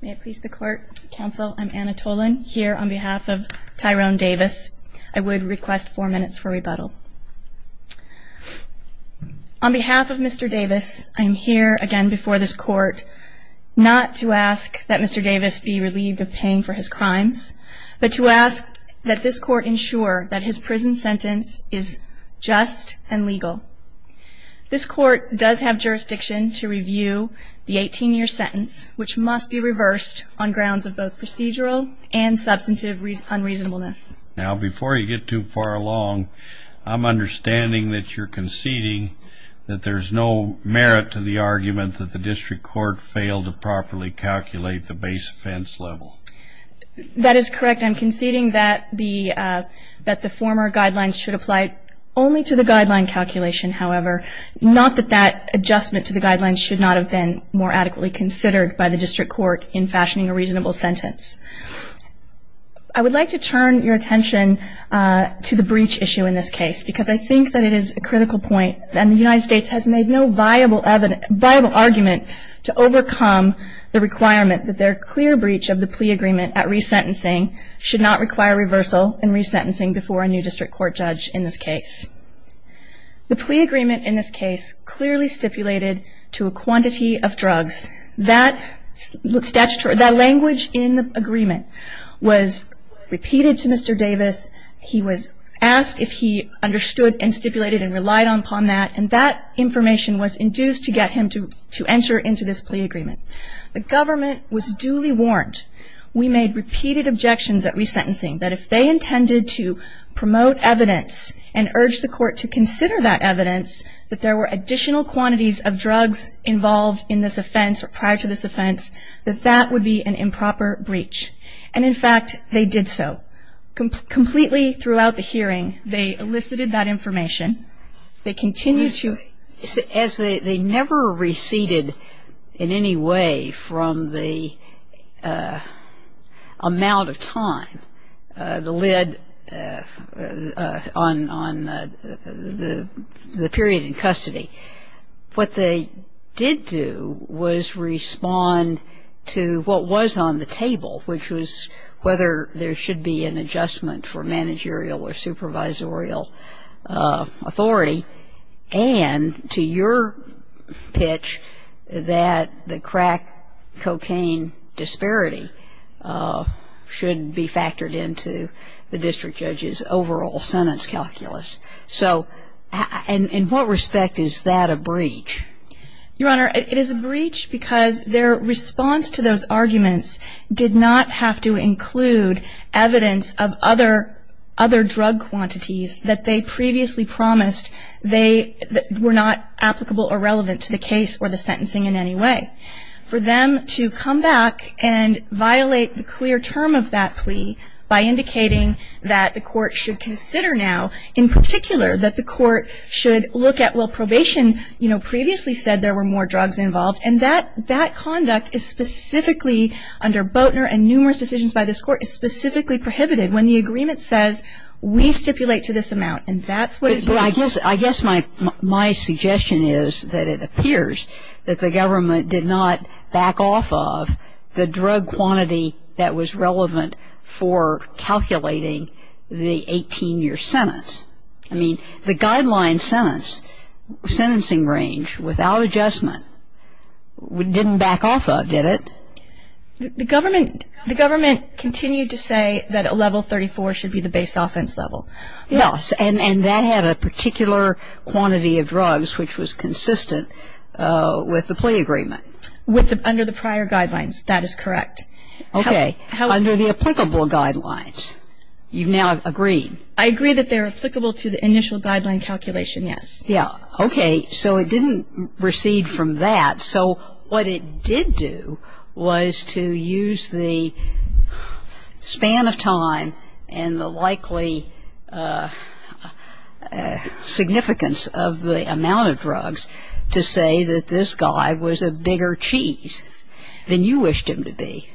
May it please the court, counsel, I'm Anna Tolan, here on behalf of Tyrone Davis. I would request four minutes for rebuttal. On behalf of Mr. Davis, I'm here again before this court not to ask that Mr. Davis be relieved of paying for his crimes, but to ask that this court ensure that his prison sentence is just and legal. This court does have jurisdiction to review the 18-year sentence, which must be reversed on grounds of both procedural and substantive unreasonableness. Now, before you get too far along, I'm understanding that you're conceding that there's no merit to the argument that the district court failed to properly calculate the base offense level. That is correct. I'm conceding that the former guidelines should apply only to the guideline calculation, however, not that that adjustment to the guidelines should not have been more adequately considered by the district court in fashioning a reasonable sentence. I would like to turn your attention to the breach issue in this case, because I think that it is a critical point, and the United States has made no viable argument to overcome the requirement that their clear breach of the plea agreement at resentencing should not require reversal and resentencing before a new district court judge in this case. The plea agreement in this case clearly stipulated to a quantity of drugs. That language in the agreement was repeated to Mr. Davis. He was asked if he understood and stipulated and relied upon that, and that information was induced to get him to enter into this plea agreement. The government was duly warned. We made repeated objections at resentencing that if they intended to promote evidence and urged the court to consider that evidence, that there were additional quantities of drugs involved in this offense or prior to this offense, that that would be an improper breach. And, in fact, they did so. Completely throughout the hearing, they elicited that information. As they never receded in any way from the amount of time that led on the period in custody, what they did do was respond to what was on the table, which was whether there should be an adjustment for managerial or supervisorial authority, and to your pitch that the crack cocaine disparity should be factored into the district judge's overall sentence calculus. So in what respect is that a breach? Your Honor, it is a breach because their response to those arguments did not have to include evidence of other drug quantities that they previously promised they were not applicable or relevant to the case or the sentencing in any way. For them to come back and violate the clear term of that plea by indicating that the court should consider now, in particular, that the court should look at, well, probation, you know, previously said there were more drugs involved. And that conduct is specifically, under Boatner and numerous decisions by this court, is specifically prohibited when the agreement says we stipulate to this amount. And that's what is used. I guess my suggestion is that it appears that the government did not back off of the drug quantity that was relevant for calculating the 18-year sentence. I mean, the guideline sentence, sentencing range without adjustment, didn't back off of, did it? The government continued to say that a level 34 should be the base offense level. Yes. And that had a particular quantity of drugs which was consistent with the plea agreement. Under the prior guidelines, that is correct. Okay. Under the applicable guidelines. You've now agreed. I agree that they're applicable to the initial guideline calculation, yes. Yeah. Okay. So it didn't recede from that. So what it did do was to use the span of time and the likely significance of the amount of drugs to say that this guy was a bigger cheese than you wished him to be.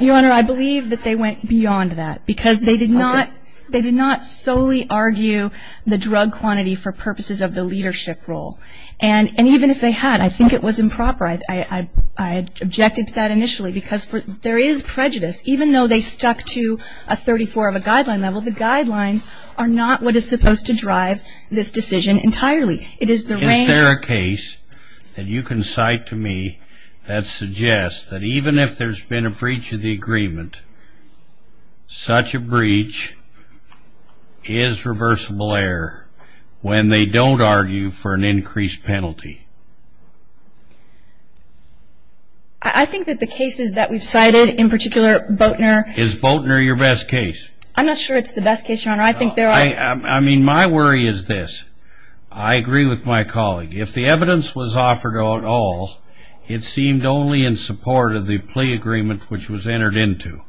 Your Honor, I believe that they went beyond that. Because they did not solely argue the drug quantity for purposes of the leadership role. And even if they had, I think it was improper. I objected to that initially. Because there is prejudice. Even though they stuck to a 34 of a guideline level, the guidelines are not what is supposed to drive this decision entirely. Is there a case that you can cite to me that suggests that even if there's been a breach of the agreement, such a breach is reversible error when they don't argue for an increased penalty? I think that the cases that we've cited, in particular Boatner. Is Boatner your best case? I'm not sure it's the best case, Your Honor. I mean, my worry is this. I agree with my colleague. If the evidence was offered at all, it seemed only in support of the plea agreement which was entered into.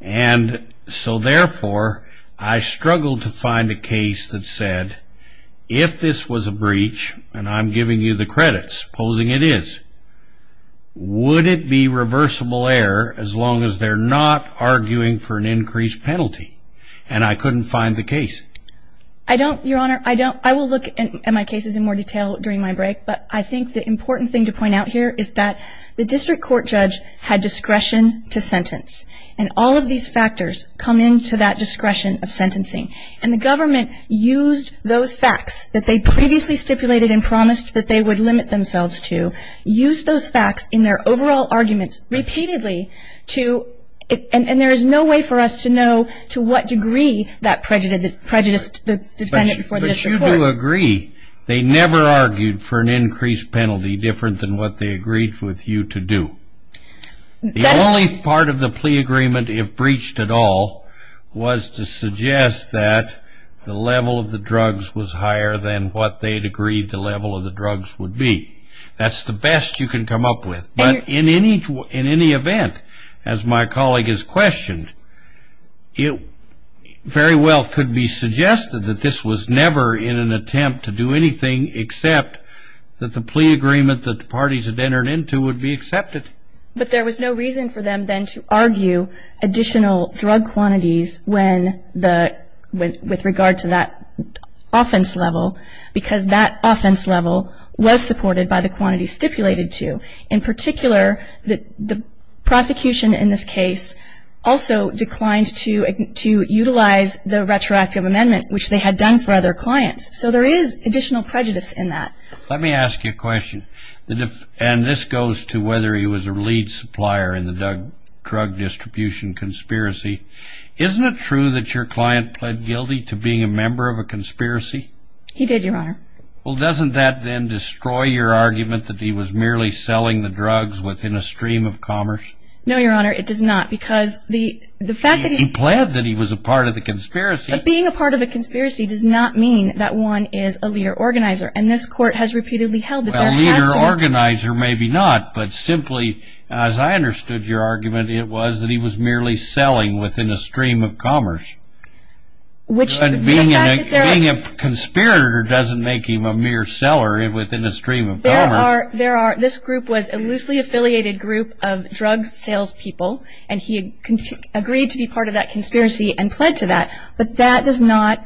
And so therefore, I struggled to find a case that said, if this was a breach, and I'm giving you the credits, supposing it is, would it be reversible error as long as they're not arguing for an increased penalty? And I couldn't find the case. I don't, Your Honor. I don't. I will look at my cases in more detail during my break. But I think the important thing to point out here is that the district court judge had discretion to sentence. And all of these factors come into that discretion of sentencing. And the government used those facts that they previously stipulated and promised that they would limit themselves to, used those facts in their overall arguments repeatedly to, and there is no way for us to know to what degree that prejudiced the defendant before the district court. But you do agree they never argued for an increased penalty different than what they agreed with you to do. The only part of the plea agreement, if breached at all, was to suggest that the level of the drugs was higher than what they'd agreed the level of the drugs would be. That's the best you can come up with. But in any event, as my colleague has questioned, it very well could be suggested that this was never in an attempt to do anything except that the plea agreement that the parties had entered into would be accepted. But there was no reason for them then to argue additional drug quantities when the, with regard to that offense level because that offense level was supported by the quantity stipulated to. In particular, the prosecution in this case also declined to utilize the retroactive amendment, which they had done for other clients. So there is additional prejudice in that. Let me ask you a question. And this goes to whether he was a lead supplier in the drug distribution conspiracy. Isn't it true that your client pled guilty to being a member of a conspiracy? He did, Your Honor. Well, doesn't that then destroy your argument that he was merely selling the drugs within a stream of commerce? No, Your Honor. It does not because the fact that he. He pled that he was a part of the conspiracy. But being a part of a conspiracy does not mean that one is a leader organizer. And this court has repeatedly held that there has to be. Well, leader organizer maybe not, but simply, as I understood your argument, it was that he was merely selling within a stream of commerce. Which. Being a conspirator doesn't make him a mere seller within a stream of commerce. There are. This group was a loosely affiliated group of drug sales people. And he agreed to be part of that conspiracy and pled to that. But that does not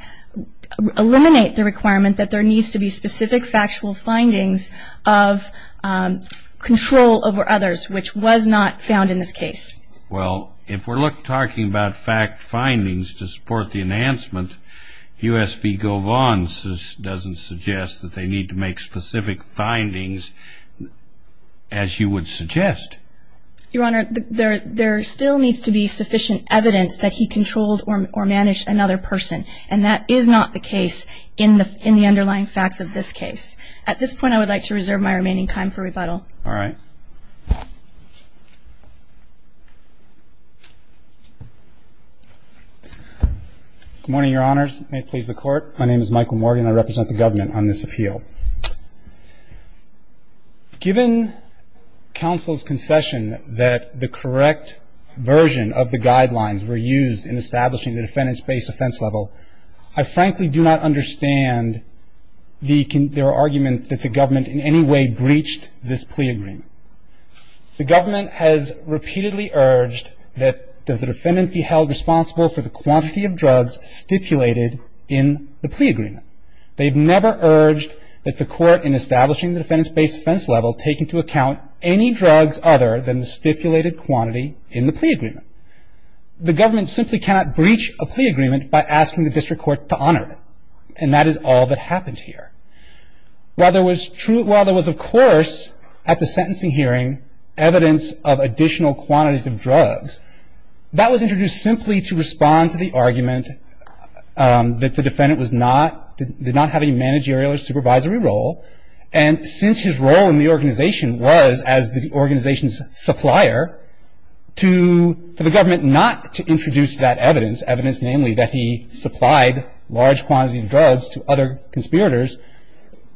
eliminate the requirement that there needs to be specific factual findings of control over others, which was not found in this case. Well, if we're talking about fact findings to support the enhancement, U.S. v. Govons doesn't suggest that they need to make specific findings as you would suggest. Your Honor, there still needs to be sufficient evidence that he controlled or managed another person. And that is not the case in the underlying facts of this case. At this point, I would like to reserve my remaining time for rebuttal. All right. Thank you, Your Honor. Good morning, Your Honors. May it please the Court. My name is Michael Morgan. I represent the government on this appeal. Given counsel's concession that the correct version of the guidelines were used in establishing the defendant's base offense level, I frankly do not understand their argument that the government in any way breached this plea agreement. The government has repeatedly urged that the defendant be held responsible for the quantity of drugs stipulated in the plea agreement. They've never urged that the court in establishing the defendant's base offense level take into account any drugs other than the stipulated quantity in the plea agreement. The government simply cannot breach a plea agreement by asking the district court to honor it. And that is all that happened here. While there was, of course, at the sentencing hearing, evidence of additional quantities of drugs, that was introduced simply to respond to the argument that the defendant did not have a managerial or supervisory role. And since his role in the organization was as the organization's supplier, for the government not to introduce that evidence, evidence namely that he supplied large quantities of drugs to other conspirators,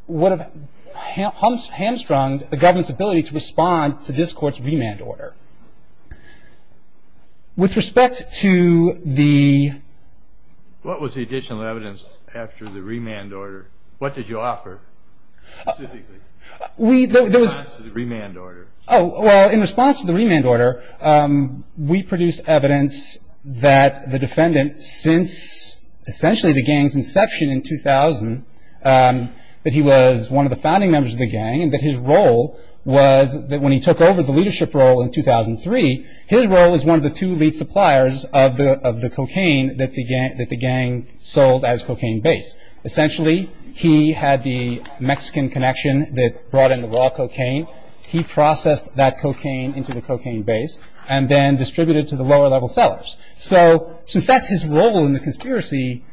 would have hamstrung the government's ability to respond to this court's remand order. With respect to the... What was the additional evidence after the remand order? What did you offer specifically in response to the remand order? Oh, well, in response to the remand order, we produced evidence that the defendant, since essentially the gang's inception in 2000, that he was one of the founding members of the gang, and that his role was that when he took over the leadership role in 2003, his role was one of the two lead suppliers of the cocaine that the gang sold as cocaine base. Essentially, he had the Mexican connection that brought in the raw cocaine. He processed that cocaine into the cocaine base and then distributed it to the lower level sellers. So since that's his role in the conspiracy,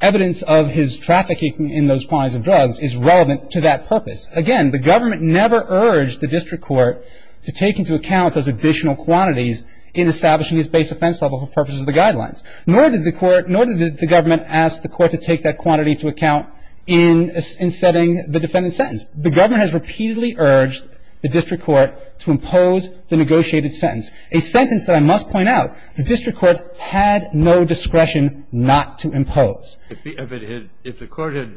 evidence of his trafficking in those quantities of drugs is relevant to that purpose. Again, the government never urged the district court to take into account those additional quantities in establishing his base offense level for purposes of the guidelines. Nor did the court... Nor did the government ask the court to take that quantity into account in setting the defendant's sentence. The government has repeatedly urged the district court to impose the negotiated sentence, a sentence that I must point out, the district court had no discretion not to impose. If it had... If the court had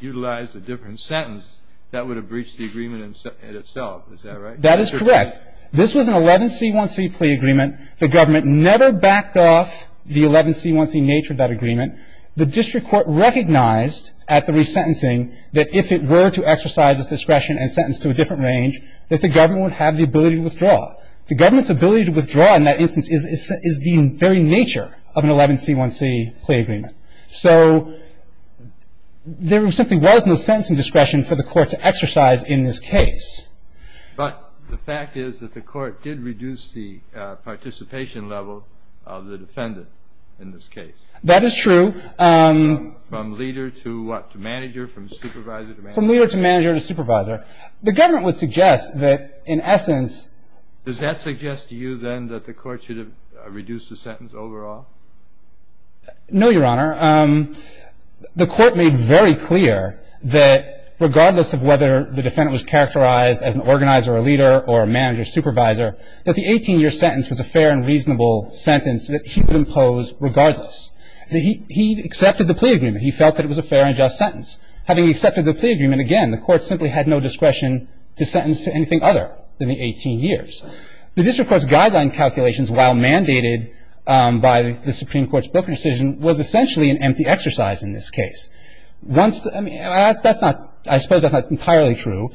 utilized a different sentence, that would have breached the agreement itself. Is that right? That is correct. This was an 11C1C plea agreement. The government never backed off the 11C1C nature of that agreement. The district court recognized at the resentencing that if it were to exercise its discretion and sentence to a different range, that the government would have the ability to withdraw. The government's ability to withdraw in that instance is the very nature of an 11C1C plea agreement. So there simply was no sentencing discretion for the court to exercise in this case. But the fact is that the court did reduce the participation level of the defendant in this case. That is true. From leader to what? To manager? From supervisor to manager? From leader to manager to supervisor. The government would suggest that in essence... Does that suggest to you then that the court should have reduced the sentence overall? No, Your Honor. The court made very clear that regardless of whether the defendant was characterized as an organizer or leader or a manager or supervisor, that the 18-year sentence was a fair and reasonable sentence that he would impose regardless. He accepted the plea agreement. He felt that it was a fair and just sentence. Having accepted the plea agreement, again, the court simply had no discretion to sentence to anything other than the 18 years. The district court's guideline calculations, while mandated by the Supreme Court's broken decision, was essentially an empty exercise in this case. Once the... I mean, that's not... I suppose that's not entirely true.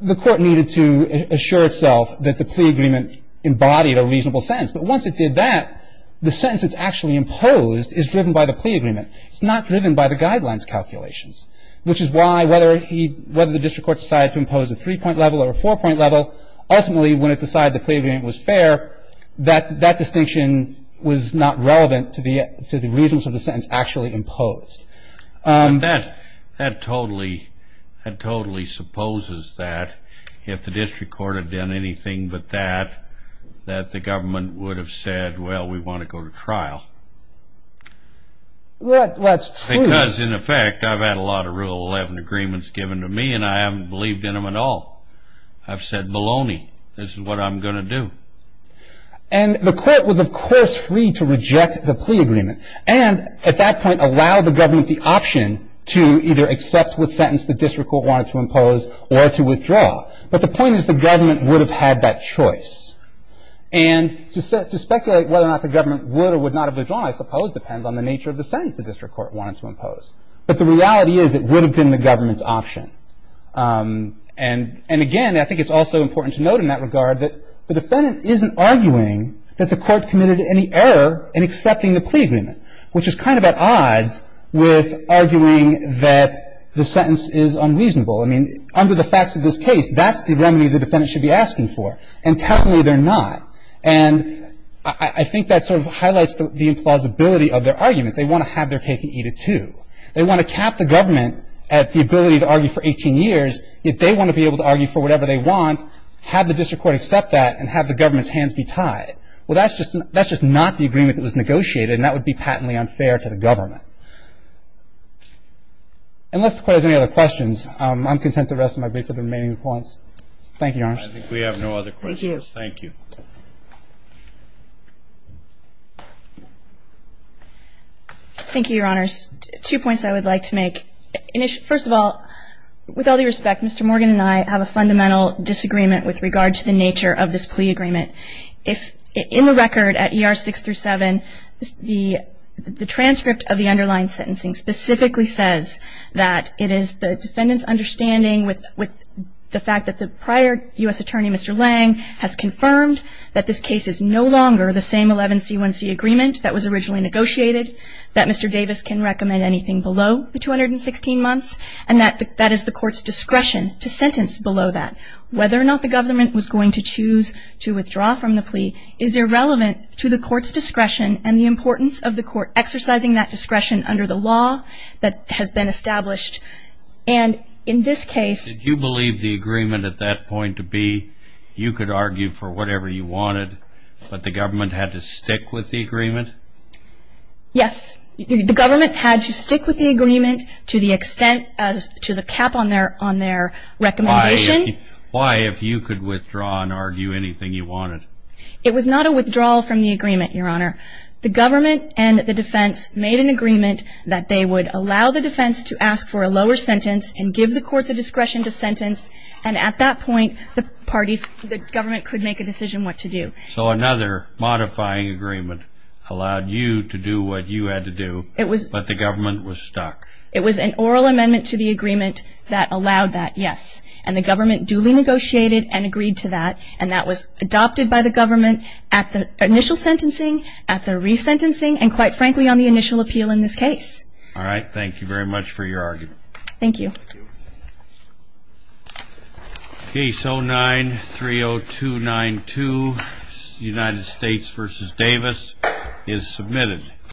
The court needed to assure itself that the plea agreement embodied a reasonable sentence. But once it did that, the sentence that's actually imposed is driven by the plea agreement. It's not driven by the guidelines calculations, which is why whether he... whether the district court decided to impose a three-point level or a four-point level, ultimately, when it decided the plea agreement was fair, that distinction was not relevant to the reasons of the sentence actually imposed. That totally supposes that if the district court had done anything but that, that the government would have said, well, we want to go to trial. That's true. Because, in effect, I've had a lot of Rule 11 agreements given to me, and I haven't believed in them at all. I've said baloney. This is what I'm going to do. And the court was, of course, free to reject the plea agreement and, at that point, allow the government the option to either accept what sentence the district court wanted to impose or to withdraw. But the point is the government would have had that choice. And to speculate whether or not the government would or would not have withdrawn, I suppose, depends on the nature of the sentence the district court wanted to impose. But the reality is it would have been the government's option. And, again, I think it's also important to note in that regard that the defendant isn't arguing that the court committed any error in accepting the plea agreement, which is kind of at odds with arguing that the sentence is unreasonable. I mean, under the facts of this case, that's the remedy the defendant should be asking for. And, technically, they're not. And I think that sort of highlights the implausibility of their argument. They want to have their cake and eat it, too. They want to cap the government at the ability to argue for 18 years, yet they want to be able to argue for whatever they want, have the district court accept that, and have the government's hands be tied. Well, that's just not the agreement that was negotiated, and that would be patently unfair to the government. Unless the court has any other questions, I'm content to rest my brief for the remaining appointments. Thank you, Your Honors. I think we have no other questions. Thank you. Thank you. Thank you, Your Honors. Two points I would like to make. First of all, with all due respect, Mr. Morgan and I have a fundamental disagreement with regard to the nature of this plea agreement. In the record at ER 6-7, the transcript of the underlying sentencing specifically says that it is the defendant's understanding with the fact that the prior U.S. attorney, Mr. Lang, has confirmed that this case is no longer the same 11C1C agreement that was originally negotiated, that Mr. Davis can recommend anything below the 216 months, and that that is the court's discretion to sentence below that. Whether or not the government was going to choose to withdraw from the plea is irrelevant to the court's discretion and the importance of the court exercising that discretion under the law that has been established. And in this case ---- Did you believe the agreement at that point to be you could argue for whatever you wanted, but the government had to stick with the agreement? Yes. The government had to stick with the agreement to the extent as to the cap on their recommendation. Why if you could withdraw and argue anything you wanted? It was not a withdrawal from the agreement, Your Honor. The government and the defense made an agreement that they would allow the defense to ask for a lower sentence and give the court the discretion to sentence, and at that point the parties, the government could make a decision what to do. So another modifying agreement allowed you to do what you had to do, but the government was stuck. It was an oral amendment to the agreement that allowed that, yes. And the government duly negotiated and agreed to that, and that was adopted by the government at the initial sentencing, at the resentencing, and quite frankly on the initial appeal in this case. All right. Thank you very much for your argument. Thank you. Case 09-30292, United States v. Davis, is submitted.